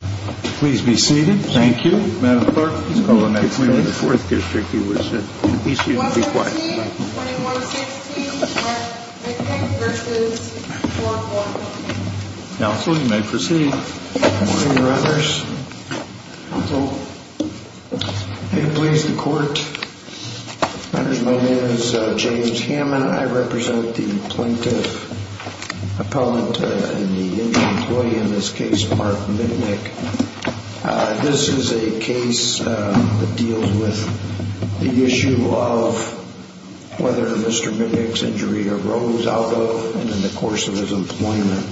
Please be seated. Thank you. Madam Clerk, please call the next witness. The fourth district he was at. 2116 Mark Mitnick v. 440. Counsel, you may proceed. Good morning, Your Honors. May it please the Court. My name is James Hammond. I represent the plaintiff, appellant, and the injured employee in this case, Mark Mitnick. This is a case that deals with the issue of whether Mr. Mitnick's injury arose out of and in the course of his employment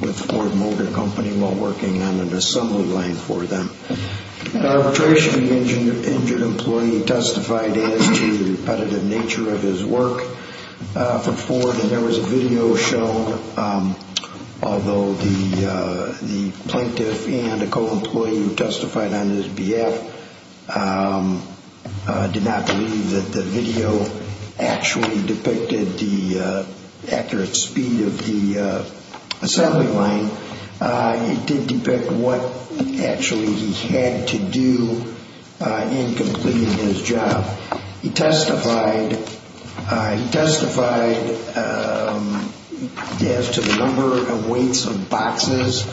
with Ford Motor Company while working on an assembly line for them. In arbitration, the injured employee testified as to the repetitive nature of his work for Ford, and there was a video shown, although the plaintiff and a co-employee who testified on his behalf did not believe that the video actually depicted the accurate speed of the assembly line. It did depict what actually he had to do in completing his job. He testified as to the number of weights of boxes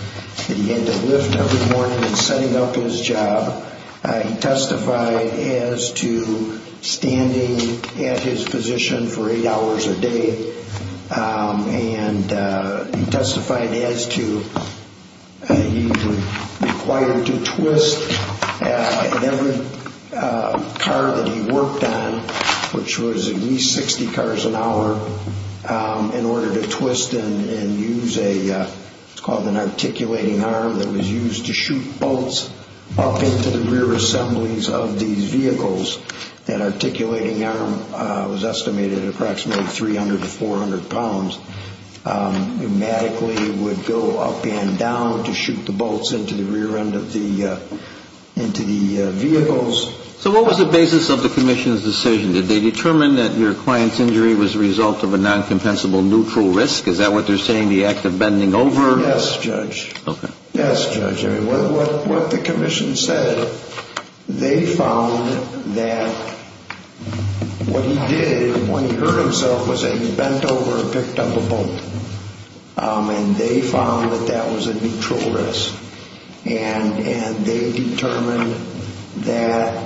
that he had to lift every morning in setting up his job. He testified as to standing at his position for eight hours a day. And he testified as to he was required to twist at every car that he worked on, which was at least 60 cars an hour, in order to twist and use what's called an articulating arm that was used to shoot bolts up into the rear assemblies of these vehicles. That articulating arm was estimated at approximately 300 to 400 pounds. It magically would go up and down to shoot the bolts into the rear end of the vehicles. So what was the basis of the commission's decision? Did they determine that your client's injury was the result of a non-compensable neutral risk? Is that what they're saying, the act of bending over? Yes, Judge. Okay. They found that what he did when he hurt himself was that he bent over and picked up a bolt. And they found that that was a neutral risk. And they determined that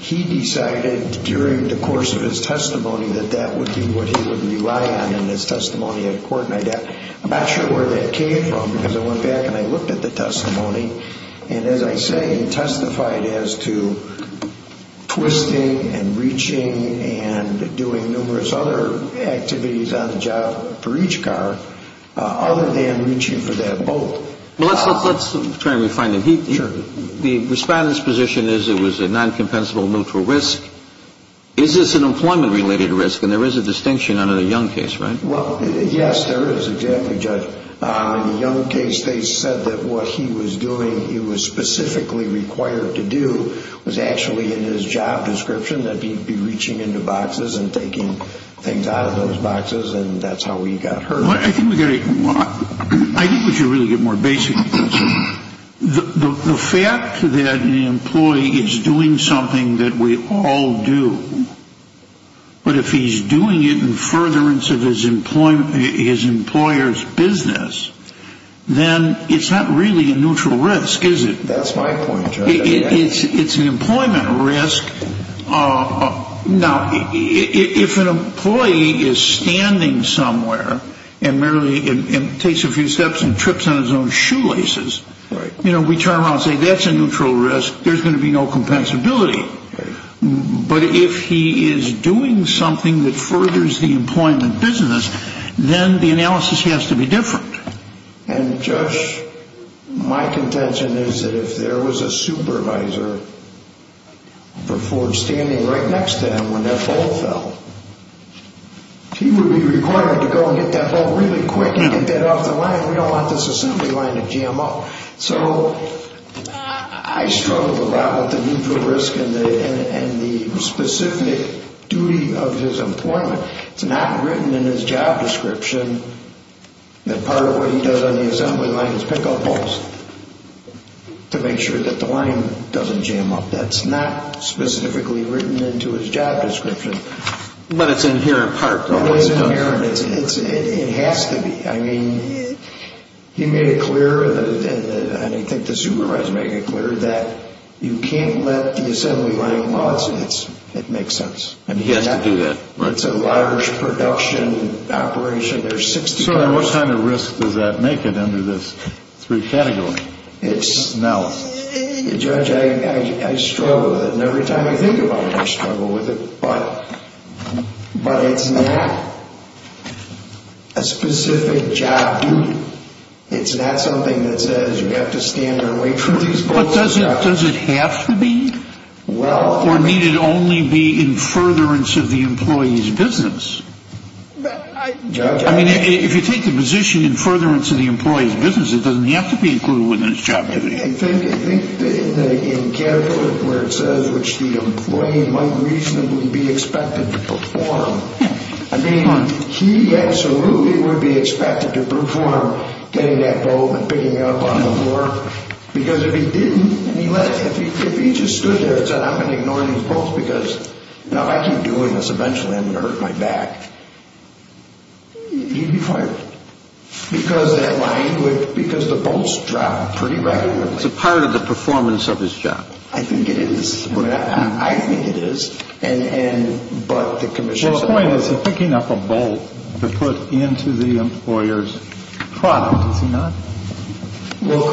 he decided during the course of his testimony that that would be what he would rely on in his testimony at court. I'm not sure where that came from, because I went back and I looked at the testimony. And as I say, it testified as to twisting and reaching and doing numerous other activities on the job for each car, other than reaching for that bolt. Well, let's try and refine it. Sure. The Respondent's position is it was a non-compensable neutral risk. Is this an employment-related risk? And there is a distinction under the Young case, right? Well, yes, there is, exactly, Judge. In the Young case, they said that what he was doing he was specifically required to do was actually in his job description, that he'd be reaching into boxes and taking things out of those boxes, and that's how he got hurt. I think we should really get more basic. The fact that an employee is doing something that we all do, but if he's doing it in furtherance of his employer's business, then it's not really a neutral risk, is it? That's my point, Judge. It's an employment risk. Now, if an employee is standing somewhere and merely takes a few steps and trips on his own shoelaces, we turn around and say that's a neutral risk, there's going to be no compensability. But if he is doing something that furthers the employment business, then the analysis has to be different. And, Judge, my contention is that if there was a supervisor for Ford standing right next to him when that ball fell, he would be required to go and get that ball really quick and get that off the line. We don't want this assembly line to jam up. So I struggle a lot with the neutral risk and the specific duty of his employment. It's not written in his job description that part of what he does on the assembly line is pick up balls to make sure that the line doesn't jam up. That's not specifically written into his job description. But it's inherent part, though. It is inherent. It has to be. I mean, he made it clear, and I think the supervisor made it clear, that you can't let the assembly line loss. It makes sense. And he has to do that, right? It's a large production operation. There's 60 cars. So what kind of risk does that make it under this three category? Now, Judge, I struggle with it. And every time I think about it, I struggle with it. But it's not a specific job duty. It's not something that says you have to stand your weight for these balls. But does it have to be? Or need it only be in furtherance of the employee's business? I mean, if you take the position in furtherance of the employee's business, it doesn't have to be included within his job duty. I think in category where it says which the employee might reasonably be expected to perform, I mean, he absolutely would be expected to perform getting that bulb and picking it up on the floor. Because if he didn't, if he just stood there and said, I'm going to ignore these bulbs because now if I keep doing this, eventually I'm going to hurt my back, he'd be fired. Because that line would, because the bulbs drop pretty regularly. It's a part of the performance of his job. I think it is. I think it is. And, but the commission... The point is he's picking up a bulb to put into the employer's product, is he not? Well,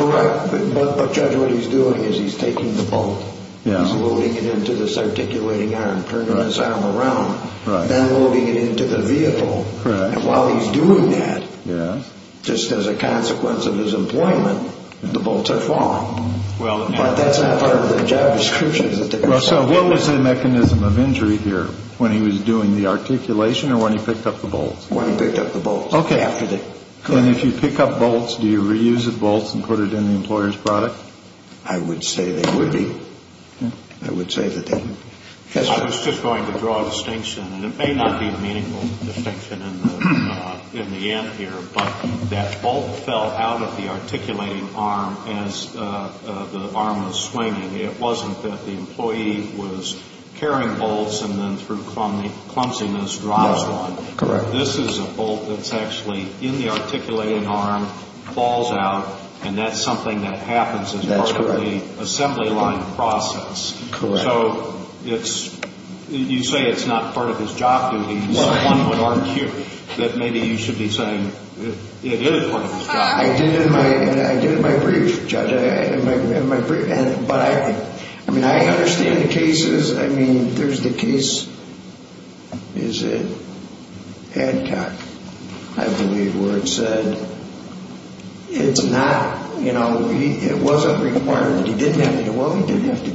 correct. But, Judge, what he's doing is he's taking the bulb, he's loading it into this articulating arm, turning it around, then loading it into the vehicle. And while he's doing that, just as a consequence of his employment, the bulbs are falling. But that's not part of the job description. So what was the mechanism of injury here? When he was doing the articulation or when he picked up the bulbs? When he picked up the bulbs. Okay. And if you pick up bulbs, do you reuse the bulbs and put it in the employer's product? I would say they would be. I would say that they would be. I was just going to draw a distinction, and it may not be a meaningful distinction in the end here, but that bulb fell out of the articulating arm as the arm was swinging. It wasn't that the employee was carrying bulbs and then through clumsiness drops one. No, correct. This is a bulb that's actually in the articulating arm, falls out, and that's something that happens as part of the assembly line process. Correct. So you say it's not part of his job duty. One would argue that maybe you should be saying it is part of his job duty. I did it in my brief, Judge. But I mean, I understand the cases. I mean, there's the case, is it? Hancock, I believe, where it said it's not, you know, it wasn't required. He didn't have to do it. Well, I don't want to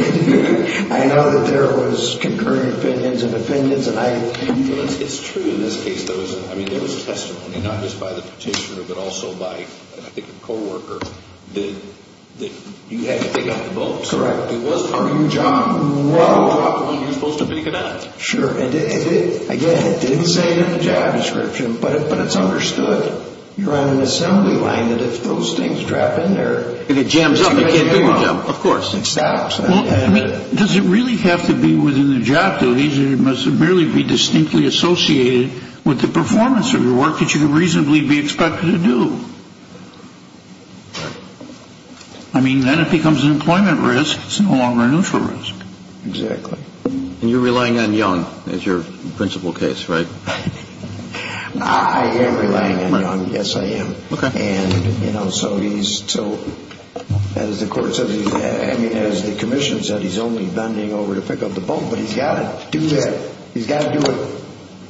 get into that. I know that there was concurring opinions and defendants. It's true in this case. I mean, there was a testimony, not just by the petitioner but also by, I think, a co-worker, that you had to pick up the bulb. Correct. It wasn't part of your job. Well, you're supposed to pick it up. Sure. Again, it didn't say it in the job description, but it's understood. You're on an assembly line. Those things drop in there. If it jams up, you can't do your job. Of course. It stops. Well, I mean, does it really have to be within the job duties? It must merely be distinctly associated with the performance of your work that you can reasonably be expected to do. I mean, then it becomes an employment risk. It's no longer a neutral risk. Exactly. And you're relying on Young as your principal case, right? I am relying on Young. Yes, I am. Okay. As the commission said, he's only bending over to pick up the bulb, but he's got to do that. He's got to do it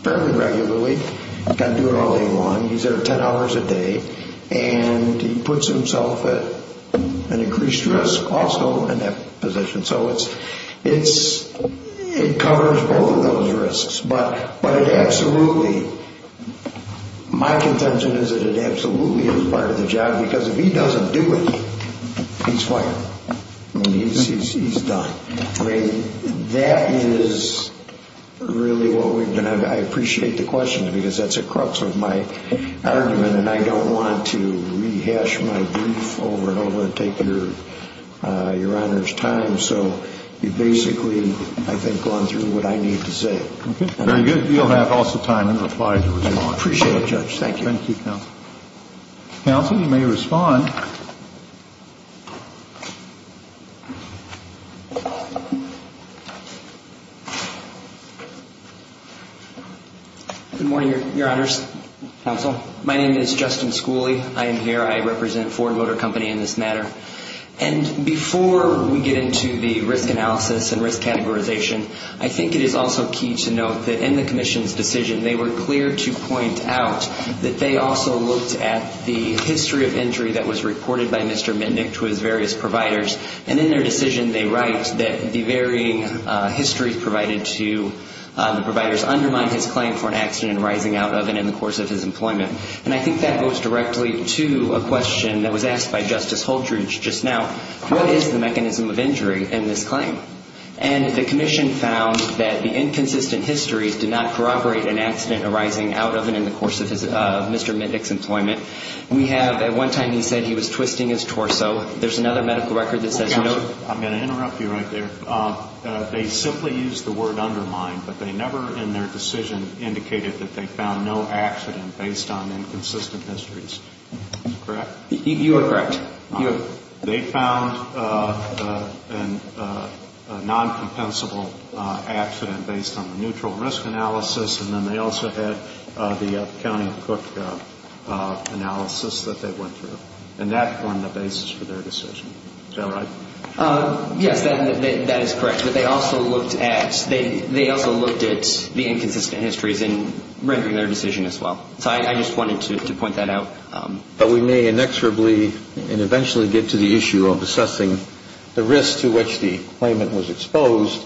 fairly regularly. He's got to do it all day long. He's there 10 hours a day, and he puts himself at an increased risk also in that position. So it covers both of those risks. My contention is that it absolutely is part of the job, because if he doesn't do it, he's fired. I mean, he's done. I mean, that is really what we've been—I appreciate the question, because that's at the crux of my argument, and I don't want to rehash my brief over and over and take your honor's time. So you've basically, I think, gone through what I need to say. Okay, very good. You'll have also time in reply to respond. I appreciate it, Judge. Thank you. Thank you, Counsel. Counsel, you may respond. Good morning, Your Honors, Counsel. My name is Justin Schooley. I am here. I represent Ford Motor Company in this matter. And before we get into the risk analysis and risk categorization, I think it is also key to note that in the Commission's decision they were clear to point out that they also looked at the history of injury that was reported by Mr. Mindik to his various providers, and in their decision they write that the varying histories provided to the providers undermined his claim for an accident and rising out of it in the course of his employment. And I think that goes directly to a question that was asked by Justice Holtridge just now. What is the mechanism of injury in this claim? And the Commission found that the inconsistent histories did not corroborate an accident arising out of and in the course of Mr. Mindik's employment. We have at one time he said he was twisting his torso. There's another medical record that says no. Counsel, I'm going to interrupt you right there. They simply used the word undermine, but they never in their decision indicated that they found no accident based on inconsistent histories. Is that correct? You are correct. They found a non-compensable accident based on the neutral risk analysis, and then they also had the accounting cook analysis that they went through. And that formed the basis for their decision. Is that right? Yes, that is correct. But they also looked at the inconsistent histories in rendering their decision as well. So I just wanted to point that out. But we may inexorably and eventually get to the issue of assessing the risk to which the claimant was exposed.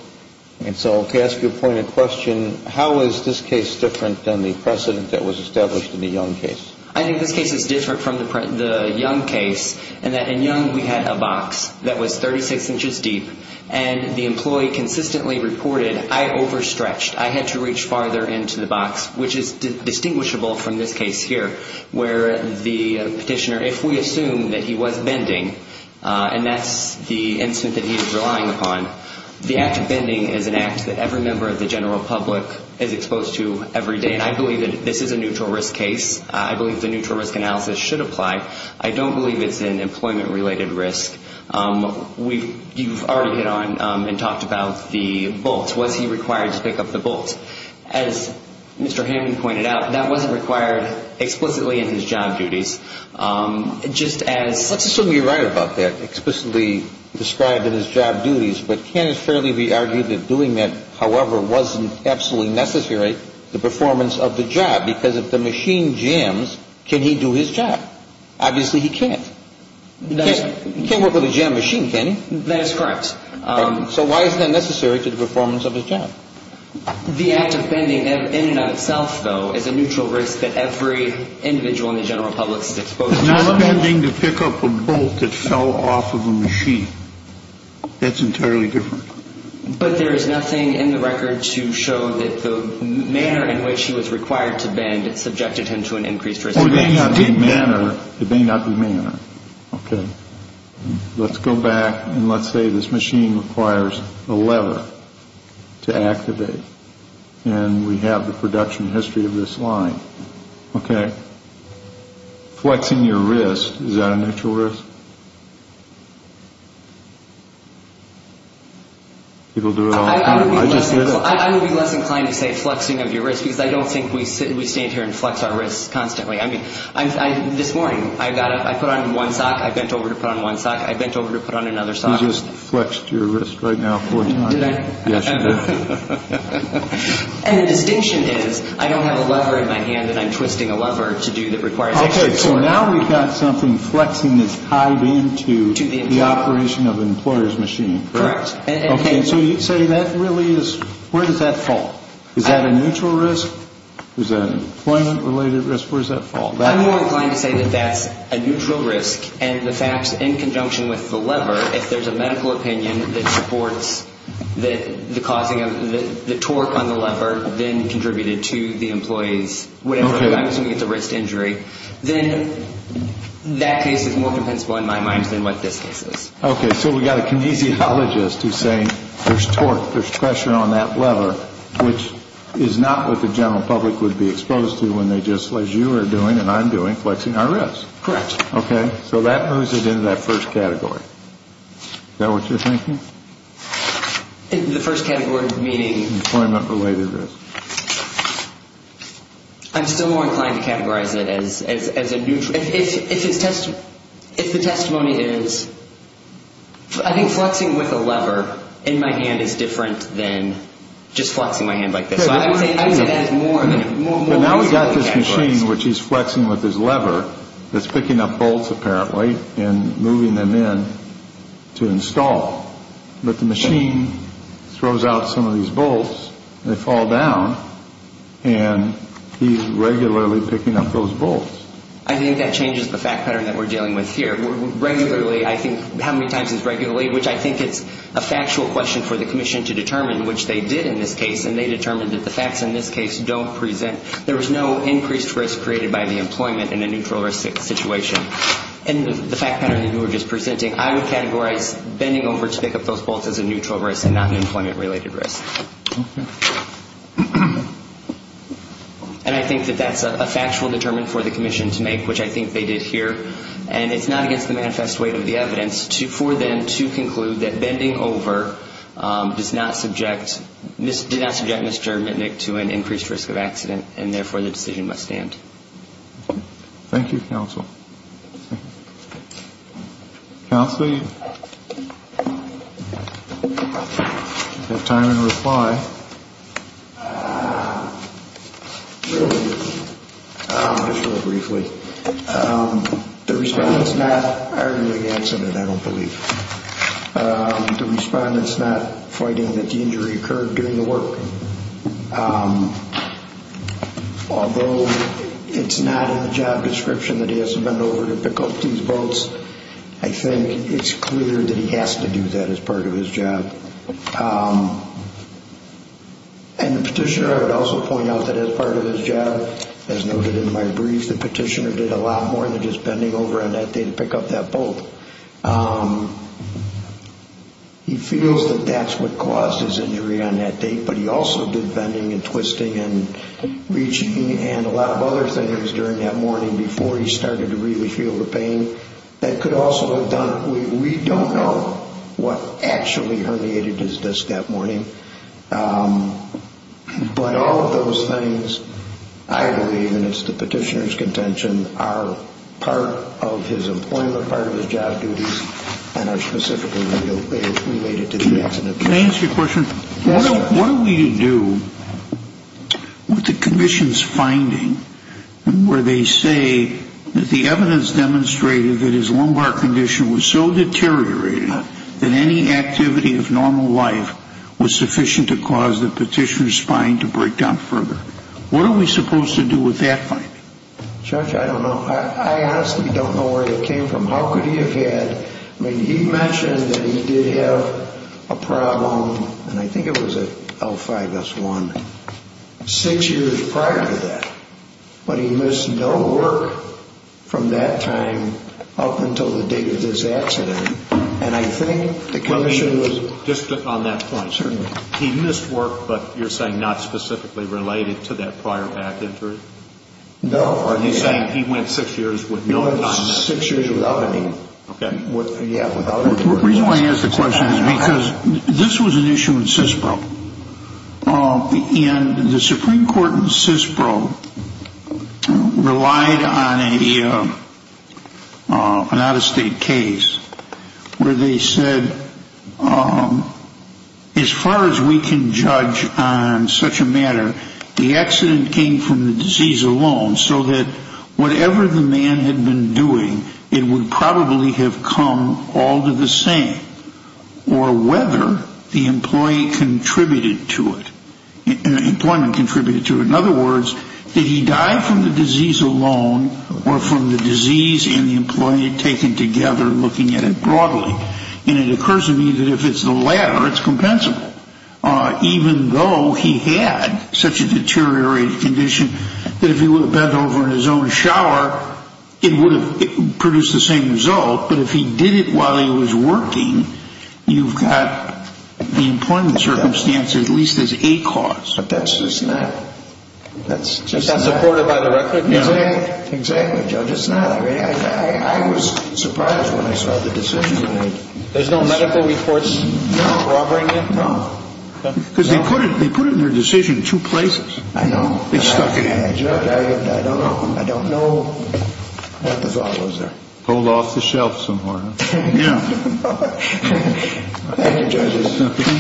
And so to ask you a pointed question, how is this case different than the precedent that was established in the Young case? I think this case is different from the Young case in that in Young we had a box that was 36 inches deep, and the employee consistently reported, I overstretched. I had to reach farther into the box, which is distinguishable from this case here, where the petitioner, if we assume that he was bending, and that's the incident that he was relying upon, the act of bending is an act that every member of the general public is exposed to every day. And I believe that this is a neutral risk case. I believe the neutral risk analysis should apply. I don't believe it's an employment-related risk. You've already hit on and talked about the bolts. Was he required to pick up the bolts? As Mr. Hammond pointed out, that wasn't required explicitly in his job duties. Just as — Let's assume you're right about that, explicitly described in his job duties. But can it fairly be argued that doing that, however, wasn't absolutely necessary, the performance of the job? Because if the machine jams, can he do his job? Obviously he can't. He can't work with a jammed machine, can he? That is correct. So why is that necessary to the performance of his job? The act of bending in and of itself, though, is a neutral risk that every individual in the general public is exposed to. It's not bending to pick up a bolt that fell off of a machine. That's entirely different. But there is nothing in the record to show that the manner in which he was required to bend subjected him to an increased risk. It may not be manner. Okay. Let's go back and let's say this machine requires a lever to activate. And we have the production history of this line. Okay. Flexing your wrist, is that a neutral risk? People do it all the time. I would be less inclined to say flexing of your wrist because I don't think we stand here and flex our wrists constantly. I mean, this morning, I put on one sock, I bent over to put on one sock, I bent over to put on another sock. You just flexed your wrist right now four times. Did I? Yes, you did. And the distinction is I don't have a lever in my hand that I'm twisting a lever to do that requires extra force. Okay. So now we've got something flexing that's tied into the operation of an employer's machine. Correct. Okay. So you'd say that really is, where does that fall? Is that a neutral risk? Is that an employment-related risk? Where does that fall? I'm more inclined to say that that's a neutral risk and the fact in conjunction with the lever, if there's a medical opinion that supports the causing of the torque on the lever, then contributed to the employee's whatever, I'm assuming it's a wrist injury, then that case is more compensable in my mind than what this case is. Okay. So we've got a kinesiologist who's saying there's torque, there's pressure on that lever, which is not what the general public would be exposed to when they just, as you are doing and I'm doing, flexing our wrist. Correct. Okay. So that moves it into that first category. Is that what you're thinking? The first category meaning? Employment-related risk. I'm still more inclined to categorize it as a neutral. If the testimony is, I think flexing with a lever in my hand is different than just flexing my hand like this. So I would say that is more than it is. Now we've got this machine which he's flexing with his lever that's picking up bolts apparently and moving them in to install. But the machine throws out some of these bolts and they fall down and he's regularly picking up those bolts. I think that changes the fact pattern that we're dealing with here. Regularly, I think, how many times is regularly, which I think it's a factual question for the commission to determine, which they did in this case, and they determined that the facts in this case don't present. There was no increased risk created by the employment in a neutral risk situation. And the fact pattern that you were just presenting, I would categorize bending over to pick up those bolts as a neutral risk and not an employment-related risk. Okay. And I think that that's a factual determine for the commission to make, which I think they did here. And it's not against the manifest weight of the evidence for them to conclude that bending over does not subject, did not subject Mr. Mitnick to an increased risk of accident, and therefore the decision must stand. Thank you, counsel. Counsel, you have time to reply. Just really briefly. The respondent's not arguing against it, I don't believe. The respondent's not fighting that the injury occurred during the work. Although it's not in the job description that he has to bend over to pick up these bolts, I think it's clear that he has to do that as part of his job. And the petitioner, I would also point out that as part of his job, as noted in my brief, the petitioner did a lot more than just bending over on that day to pick up that bolt. He feels that that's what caused his injury on that day, but he also did bending and twisting and reaching and a lot of other things during that morning before he started to really feel the pain. That could also have done it. We don't know what actually herniated his disc that morning. But all of those things, I believe, and it's the petitioner's contention, are part of his employment, part of his job duties, and are specifically related to the accident. Can I ask you a question? What are we to do with the commission's finding where they say that the evidence demonstrated that his lumbar condition was so deteriorated that any activity of normal life was sufficient to cause the petitioner's spine to break down further? What are we supposed to do with that finding? Judge, I don't know. I honestly don't know where it came from. How could he have had? I mean, he mentioned that he did have a problem, and I think it was an L5S1, six years prior to that, but he missed no work from that time up until the date of this accident. And I think the commission was... Just on that point. Certainly. He missed work, but you're saying not specifically related to that prior back injury? No. Are you saying he went six years with no... He went six years without any. The reason why I ask the question is because this was an issue in CISPRO, and the Supreme Court in CISPRO relied on an out-of-state case where they said, as far as we can judge on such a matter, the accident came from the disease alone, so that whatever the man had been doing, it would probably have come all to the same, or whether the employee contributed to it, employment contributed to it. In other words, did he die from the disease alone, or from the disease and the employee taken together looking at it broadly? And it occurs to me that if it's the latter, it's compensable, even though he had such a deteriorated condition, that if he would have bent over in his own shower, it would have produced the same result. But if he did it while he was working, you've got the employment circumstance at least as a cause. But that's just not... That's just not... It's not supported by the record? Exactly, Judge. It's not. I was surprised when I saw the decision. There's no medical reports? No. Because they put it in their decision two places. I know. They stuck it in. Judge, I don't know. I don't know what the thought was there. Pulled off the shelf some more, huh? Yeah. Thank you, Judges.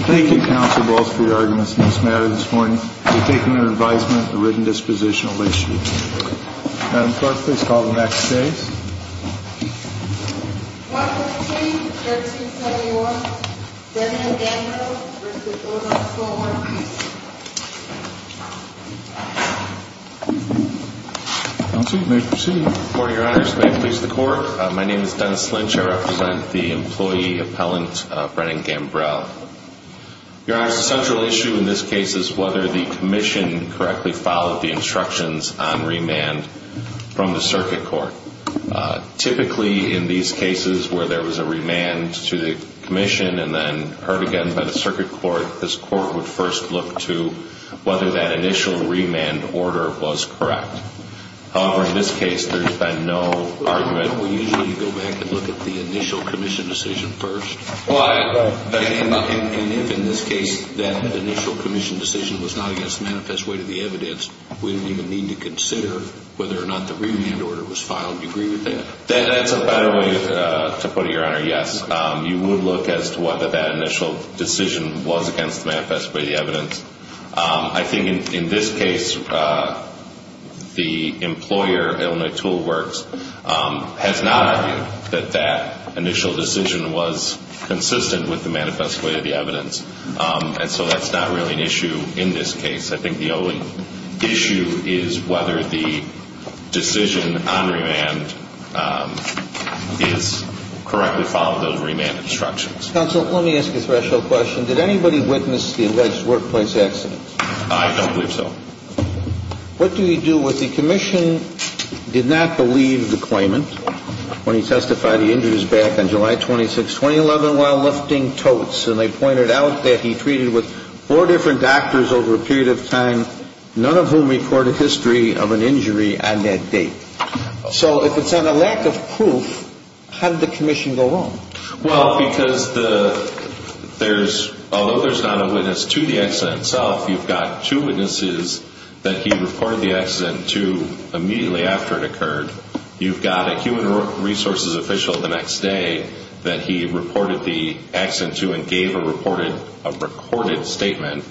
Thank you, Counsel Walsh, for your arguments on this matter this morning. We've taken your advisement, the written dispositional, late sheet. Madam Clerk, please call the next case. 115-1371, Brennan Gambrel v. Odom, 4-1-2. Counsel, you may proceed. Your Honor, may it please the Court? My name is Dennis Lynch. I represent the employee appellant, Brennan Gambrel. Your Honor, the central issue in this case is whether the commission correctly followed the instructions on remand from the circuit court. Typically, in these cases where there was a remand to the commission and then heard again by the circuit court, this court would first look to whether that initial remand order was correct. However, in this case, there's been no argument. We usually go back and look at the initial commission decision first. And if, in this case, that initial commission decision was not against the manifest weight of the evidence, we don't even need to consider whether or not the remand order was filed. Do you agree with that? That's a better way to put it, Your Honor, yes. You would look as to whether that initial decision was against the manifest weight of the evidence. I think, in this case, the employer, Illinois Tool Works, has not argued that that initial decision was consistent with the manifest weight of the evidence. And so that's not really an issue in this case. I think the only issue is whether the decision on remand is correctly followed those remand instructions. Counsel, let me ask you a threshold question. Did anybody witness the alleged workplace accident? I don't believe so. What do you do with the commission did not believe the claimant when he testified he injured his back on July 26, 2011 while lifting totes? And they pointed out that he treated with four different doctors over a period of time, none of whom recorded history of an injury on that date. So if it's on a lack of proof, how did the commission go wrong? Well, because there's, although there's not a witness to the accident itself, you've got two witnesses that he reported the accident to immediately after it occurred. You've got a human resources official the next day that he reported the accident to and gave a reported, a recorded statement.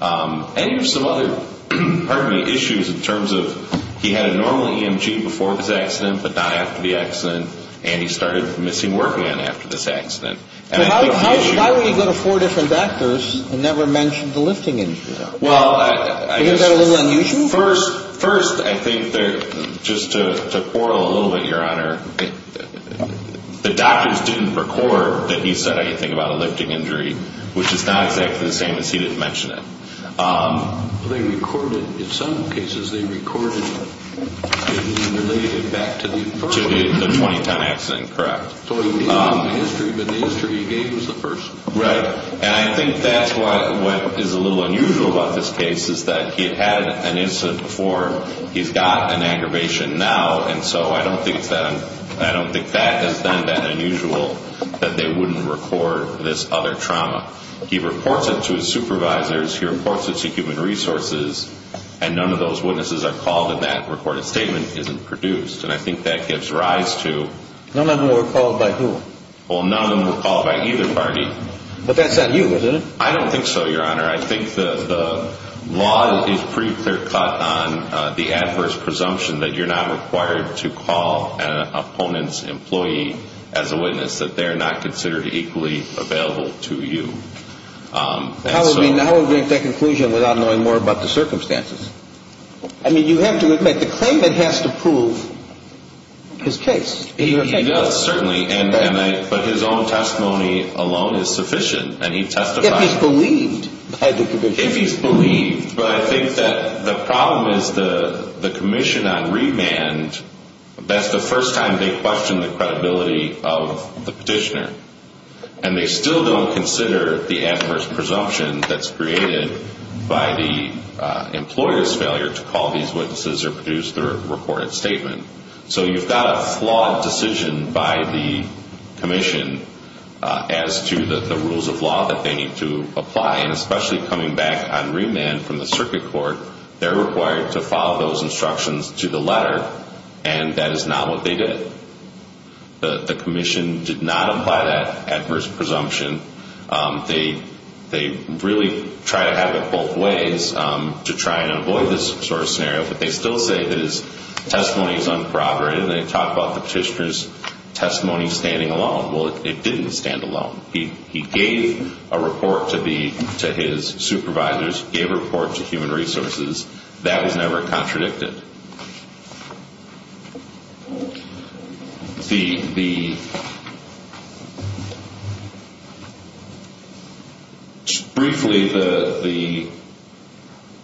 And there's some other, pardon me, issues in terms of he had a normal EMG before this accident, but not after the accident, and he started missing work again after this accident. Why would he go to four different doctors and never mention the lifting injury? Well, I guess. Isn't that a little unusual? First, first, I think just to quarrel a little bit, Your Honor, the doctors didn't record that he said anything about a lifting injury, which is not exactly the same as he didn't mention it. They recorded, in some cases, they recorded it and then related it back to the first one. To the 20-ton accident, correct. So he was given the history, but the history he gave was the first one. Right. And I think that's what is a little unusual about this case, is that he had had an incident before, he's got an aggravation now, and so I don't think that is then that unusual that they wouldn't record this other trauma. He reports it to his supervisors, he reports it to human resources, and none of those witnesses are called and that recorded statement isn't produced. And I think that gives rise to... None of them were called by who? Well, none of them were called by either party. But that's on you, isn't it? I don't think so, Your Honor. I think the law is pretty clear cut on the adverse presumption that you're not required to call an opponent's employee as a witness, that they're not considered equally available to you. How would we make that conclusion without knowing more about the circumstances? I mean, you have to admit, the claimant has to prove his case. He does, certainly, but his own testimony alone is sufficient, and he testified... If he's believed by the commission. If he's believed, but I think that the problem is the commission on remand, that's the first time they question the credibility of the petitioner, and they still don't consider the adverse presumption that's created by the employer's failure to call these witnesses or produce the recorded statement. So you've got a flawed decision by the commission as to the rules of law that they need to apply, and especially coming back on remand from the circuit court, they're required to follow those instructions to the letter, and that is not what they did. The commission did not apply that adverse presumption. They really try to have it both ways to try and avoid this sort of scenario, but they still say his testimony is unproper, and they talk about the petitioner's testimony standing alone. Well, it didn't stand alone. He gave a report to his supervisors, gave a report to human resources. That was never contradicted. Briefly, the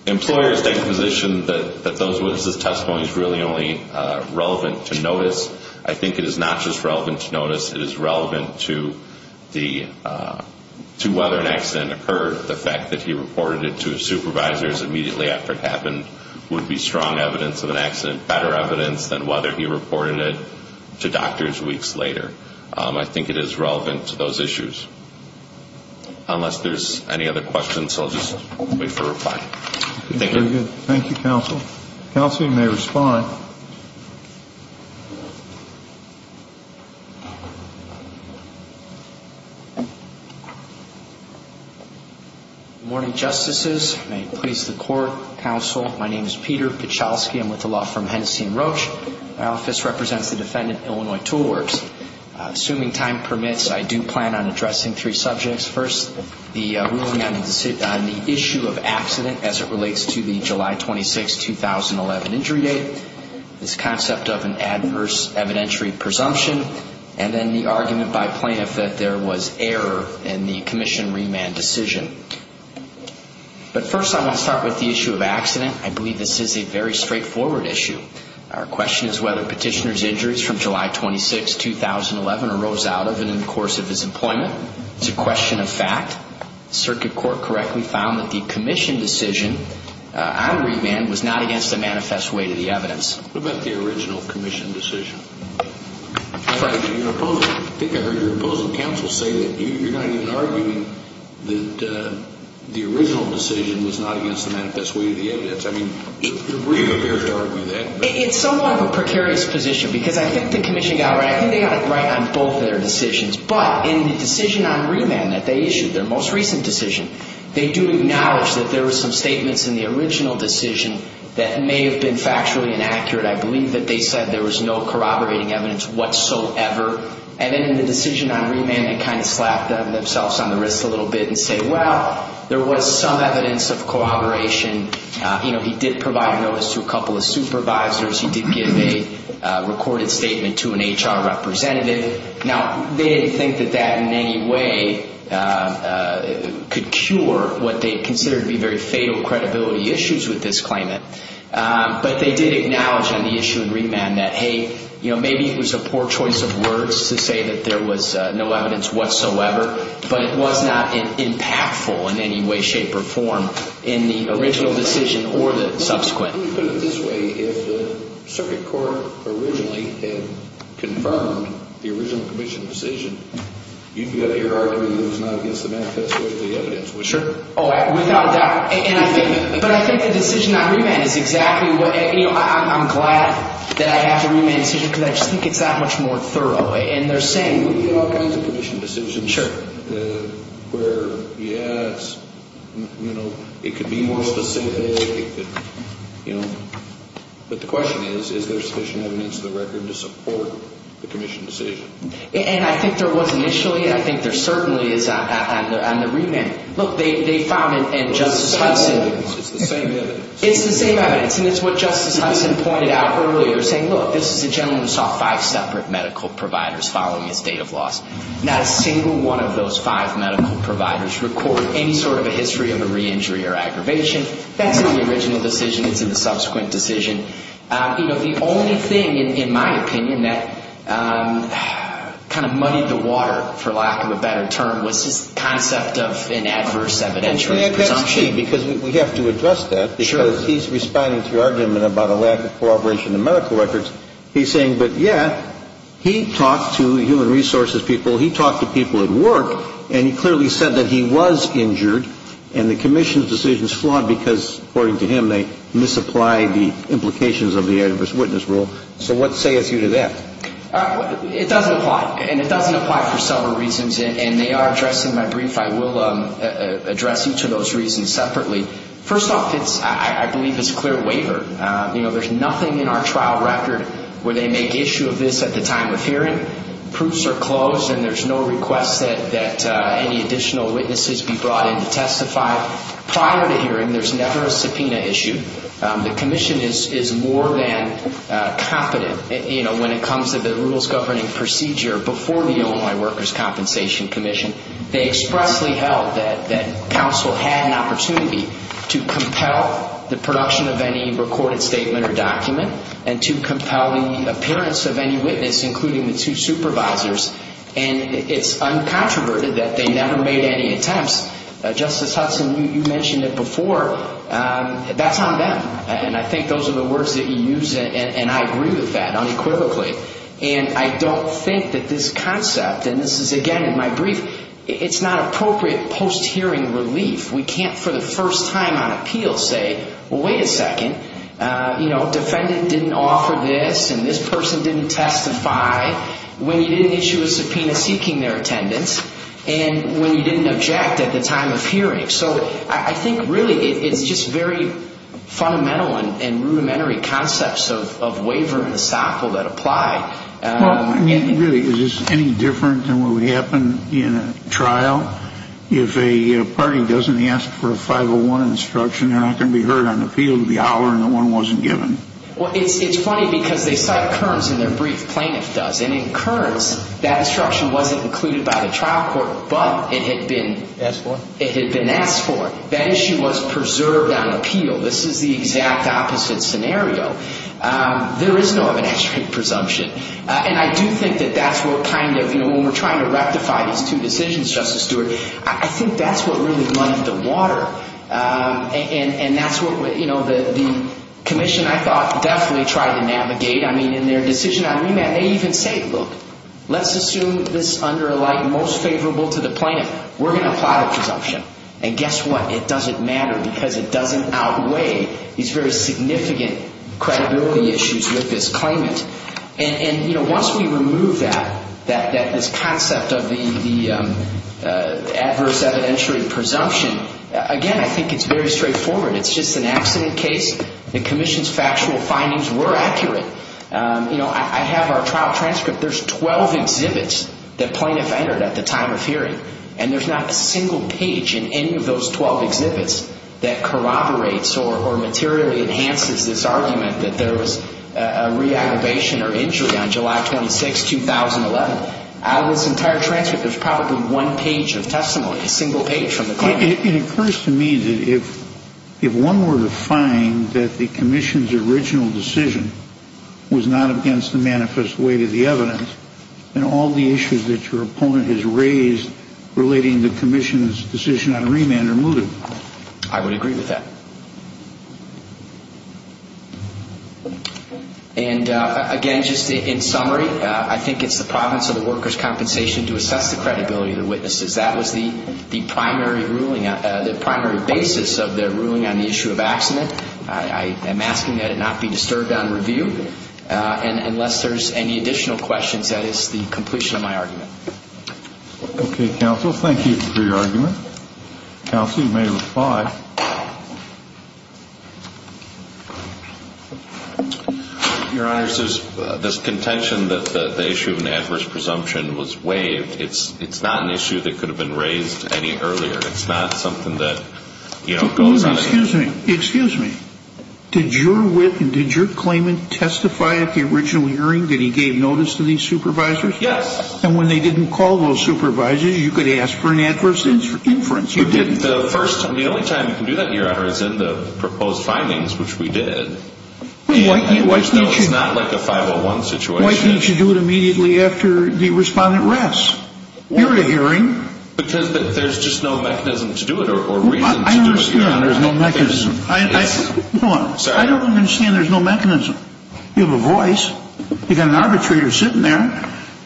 employer's position that those witnesses' testimony is really only relevant to notice, I think it is not just relevant to notice, it is relevant to whether an accident occurred. The fact that he reported it to his supervisors immediately after it happened would be strong evidence that the employer's testimony is unproper. It would be, in the absence of an accident, better evidence than whether he reported it to doctors weeks later. I think it is relevant to those issues. Unless there's any other questions, I'll just wait for a reply. Thank you. Thank you, counsel. Counsel, you may respond. Good morning, justices. May it please the court, counsel. My name is Peter Pichalski. I'm with the law firm Hennessey & Roach. My office represents the defendant, Illinois Tool Works. Assuming time permits, I do plan on addressing three subjects. First, the ruling on the issue of accident as it relates to the July 26, 2011, injury date, this concept of an adverse evidentiary presumption, and then the argument by plaintiff that there was error in the commission remand decision. But first, I want to start with the issue of accident. I believe this is a very straightforward issue. Our question is whether petitioner's injuries from July 26, 2011 arose out of and in the course of his employment. It's a question of fact. Circuit court correctly found that the commission decision on remand was not against the manifest weight of the evidence. What about the original commission decision? I think I heard your opposing counsel say that you're not even arguing that the original decision was not against the manifest weight of the evidence. I mean, you're bringing it here to argue that. It's somewhat of a precarious position because I think the commission got it right. I think they got it right on both their decisions. But in the decision on remand that they issued, their most recent decision, they do acknowledge that there were some statements in the original decision that may have been factually inaccurate. I believe that they said there was no corroborating evidence whatsoever. And then in the decision on remand, they kind of slapped themselves on the wrist a little bit and said, well, there was some evidence of corroboration. He did provide notice to a couple of supervisors. He did give a recorded statement to an HR representative. Now, they didn't think that that in any way could cure what they considered to be very fatal credibility issues with this claimant. But they did acknowledge on the issue of remand that, hey, maybe it was a poor choice of words to say that there was no evidence whatsoever. But it was not impactful in any way, shape, or form in the original decision or the subsequent. Let me put it this way. If the circuit court originally had confirmed the original commission decision, you've got to argue that it was not against the manifesto of the evidence. Sure. Oh, without a doubt. But I think the decision on remand is exactly what – you know, I'm glad that I have to remand the decision because I just think it's that much more thorough. We get all kinds of commission decisions where, yes, you know, it could be more specific. But the question is, is there sufficient evidence in the record to support the commission decision? And I think there was initially. I think there certainly is on the remand. Look, they found in Justice Hudson – It's the same evidence. It's the same evidence. It's the same evidence, and it's what Justice Hudson pointed out earlier, saying, Look, this is a gentleman who saw five separate medical providers following a state of loss. Not a single one of those five medical providers record any sort of a history of a re-injury or aggravation. That's in the original decision. It's in the subsequent decision. You know, the only thing, in my opinion, that kind of muddied the water, for lack of a better term, was this concept of an adverse evidentiary presumption. Because he's responding to your argument about a lack of corroboration in medical records. He's saying, But, yeah, he talked to human resources people. He talked to people at work, and he clearly said that he was injured, and the commission's decision is flawed because, according to him, they misapplied the implications of the adverse witness rule. So what sayeth you to that? It doesn't apply, and it doesn't apply for several reasons, and they are addressed in my brief. I will address each of those reasons separately. First off, I believe it's a clear waiver. You know, there's nothing in our trial record where they make issue of this at the time of hearing. Proofs are closed, and there's no request that any additional witnesses be brought in to testify. Prior to hearing, there's never a subpoena issue. The commission is more than competent, you know, when it comes to the rules governing procedure before the Illinois Workers' Compensation Commission. They expressly held that counsel had an opportunity to compel the production of any recorded statement or document and to compel the appearance of any witness, including the two supervisors, and it's uncontroverted that they never made any attempts. Justice Hudson, you mentioned it before. That's on them, and I think those are the words that you use, and I agree with that unequivocally. And I don't think that this concept, and this is, again, in my brief, it's not appropriate post-hearing relief. We can't, for the first time on appeal, say, well, wait a second. You know, defendant didn't offer this, and this person didn't testify when you didn't issue a subpoena seeking their attendance and when you didn't object at the time of hearing. So I think, really, it's just very fundamental and rudimentary concepts of waiver and essential that apply. I mean, really, is this any different than what would happen in a trial? If a party doesn't ask for a 501 instruction, they're not going to be heard on appeal. They'll be hollering that one wasn't given. Well, it's funny because they cite Kearns in their brief. Plaintiff does, and in Kearns, that instruction wasn't included by the trial court, but it had been asked for. That issue was preserved on appeal. This is the exact opposite scenario. There is no evidentiary presumption. And I do think that that's what kind of, you know, when we're trying to rectify these two decisions, Justice Stewart, I think that's what really muddied the water, and that's what the commission, I thought, definitely tried to navigate. I mean, in their decision on remand, they even say, look, let's assume this under a light most favorable to the plaintiff. We're going to apply the presumption. And guess what? It doesn't matter because it doesn't outweigh these very significant credibility issues with this claimant. And, you know, once we remove that, this concept of the adverse evidentiary presumption, again, I think it's very straightforward. It's just an accident case. The commission's factual findings were accurate. You know, I have our trial transcript. There's 12 exhibits that plaintiffs entered at the time of hearing, and there's not a single page in any of those 12 exhibits that corroborates or materially enhances this argument that there was a re-aggravation or injury on July 26, 2011. Out of this entire transcript, there's probably one page of testimony, a single page from the claimant. It occurs to me that if one were to find that the commission's original decision was not against the manifest weight of the evidence, then all the issues that your opponent has raised relating to the commission's decision on remand are mooted. I would agree with that. And, again, just in summary, I think it's the province or the workers' compensation to assess the credibility of the witnesses. That was the primary ruling, the primary basis of their ruling on the issue of accident. I am asking that it not be disturbed on review. And unless there's any additional questions, that is the completion of my argument. Okay, counsel. Thank you for your argument. Counsel, you may reply. Your Honors, there's contention that the issue of an adverse presumption was waived. It's not an issue that could have been raised any earlier. It's not something that, you know, goes on any longer. Excuse me. Did your wit and did your claimant testify at the original hearing that he gave notice to these supervisors? Yes. And when they didn't call those supervisors, you could ask for an adverse inference. You didn't. The only time you can do that, Your Honor, is in the proposed findings, which we did. Why can't you? It's not like a 501 situation. Why can't you do it immediately after the respondent rests? You're at a hearing. Because there's just no mechanism to do it or reason to do it, Your Honor. I don't understand there's no mechanism. Hold on. I don't understand there's no mechanism. You have a voice. You've got an arbitrator sitting there.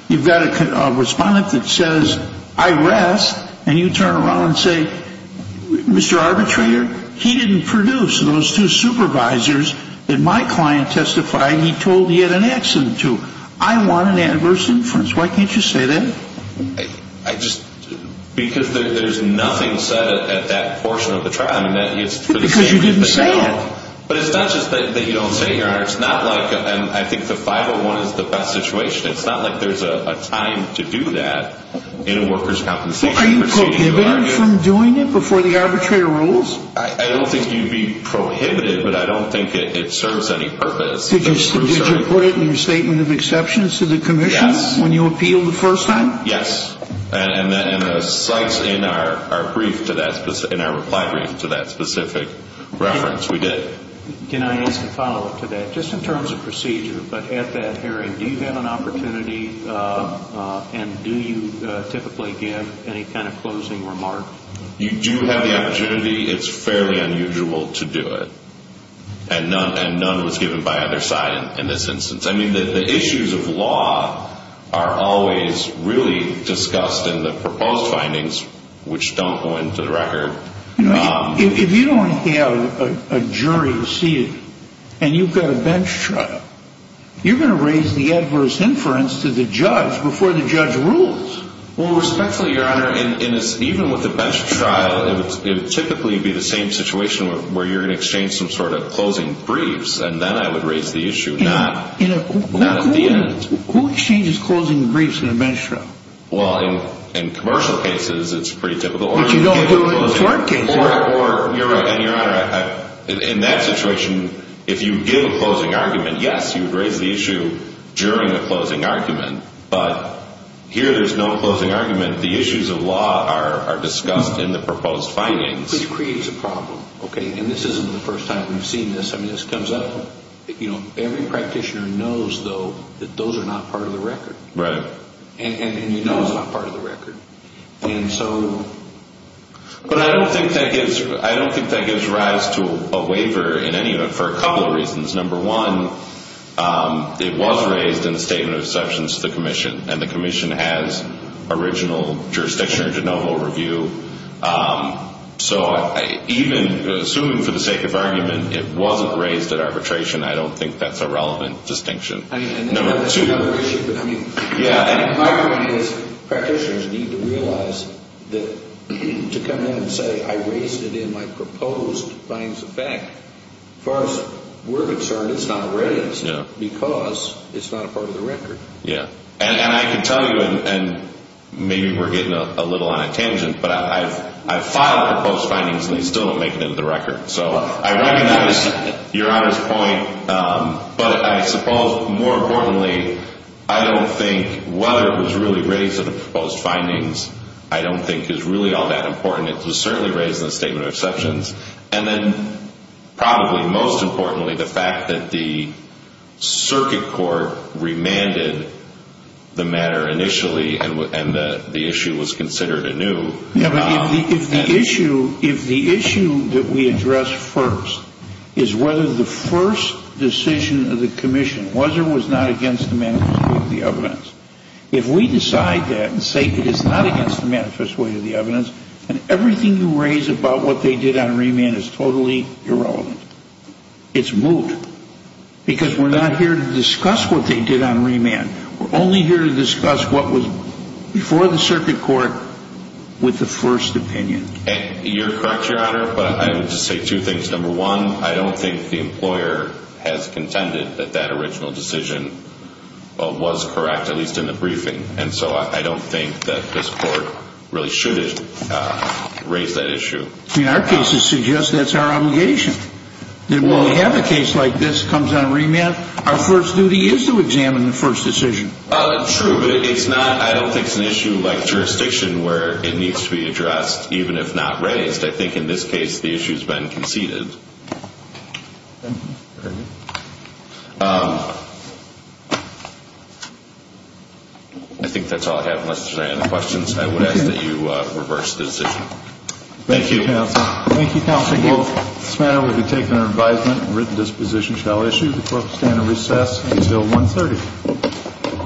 You've got a respondent that says, I rest. And you turn around and say, Mr. Arbitrator, he didn't produce those two supervisors that my client testified he told he had an accident to. I want an adverse inference. Why can't you say that? Because there's nothing said at that portion of the trial. Because you didn't say it. But it's not just that you don't say it, Your Honor. I think the 501 is the best situation. It's not like there's a time to do that in a workers' compensation proceeding. Are you prohibited from doing it before the arbitrator rules? I don't think you'd be prohibited, but I don't think it serves any purpose. Did you put it in your statement of exceptions to the commission? Yes. When you appealed the first time? Yes. And in our reply brief to that specific reference, we did. Can I ask a follow-up to that? Just in terms of procedure, but at that hearing, do you have an opportunity and do you typically give any kind of closing remark? You do have the opportunity. It's fairly unusual to do it. And none was given by either side in this instance. I mean, the issues of law are always really discussed in the proposed findings, which don't go into the record. If you don't have a jury seated and you've got a bench trial, you're going to raise the adverse inference to the judge before the judge rules. Well, respectfully, Your Honor, even with a bench trial, it would typically be the same situation where you're going to exchange some sort of closing briefs, and then I would raise the issue, not at the end. Who exchanges closing briefs in a bench trial? Well, in commercial cases, it's pretty typical. But you don't do it in tort cases. And, Your Honor, in that situation, if you give a closing argument, yes, you would raise the issue during a closing argument. But here there's no closing argument. The issues of law are discussed in the proposed findings. Which creates a problem, okay? And this isn't the first time we've seen this. I mean, this comes up. You know, every practitioner knows, though, that those are not part of the record. Right. And you know it's not part of the record. And so... But I don't think that gives rise to a waiver in any event for a couple of reasons. Number one, it was raised in a statement of exceptions to the commission. And the commission has original jurisdiction or did not hold review. So even assuming for the sake of argument it wasn't raised at arbitration, I don't think that's a relevant distinction. I mean, that's another issue. Yeah. And my point is practitioners need to realize that to come in and say I raised it in my proposed findings of fact, as far as we're concerned, it's not raised because it's not a part of the record. Yeah. And I can tell you, and maybe we're getting a little on a tangent, but I've filed proposed findings and they still don't make it into the record. So I recognize Your Honor's point. But I suppose more importantly, I don't think whether it was really raised in the proposed findings, I don't think is really all that important. It was certainly raised in the statement of exceptions. And then probably most importantly, the fact that the circuit court remanded the matter initially and the issue was considered anew. If the issue that we address first is whether the first decision of the commission was or was not against the manifest way of the evidence, if we decide that and say it is not against the manifest way of the evidence, then everything you raise about what they did on remand is totally irrelevant. It's moot. Because we're not here to discuss what they did on remand. We're only here to discuss what was before the circuit court with the first opinion. You're correct, Your Honor, but I would just say two things. Number one, I don't think the employer has contended that that original decision was correct, at least in the briefing. And so I don't think that this court really should have raised that issue. I mean, our cases suggest that's our obligation. That when we have a case like this that comes on remand, our first duty is to examine the first decision. True, but it's not, I don't think it's an issue like jurisdiction where it needs to be addressed, even if not raised. I think in this case the issue has been conceded. I think that's all I have unless there are any questions. I would ask that you reverse the decision. Thank you, counsel. Thank you, counsel. This matter will be taken under advisement. Written disposition shall issue. The court will stand at recess until 1.30.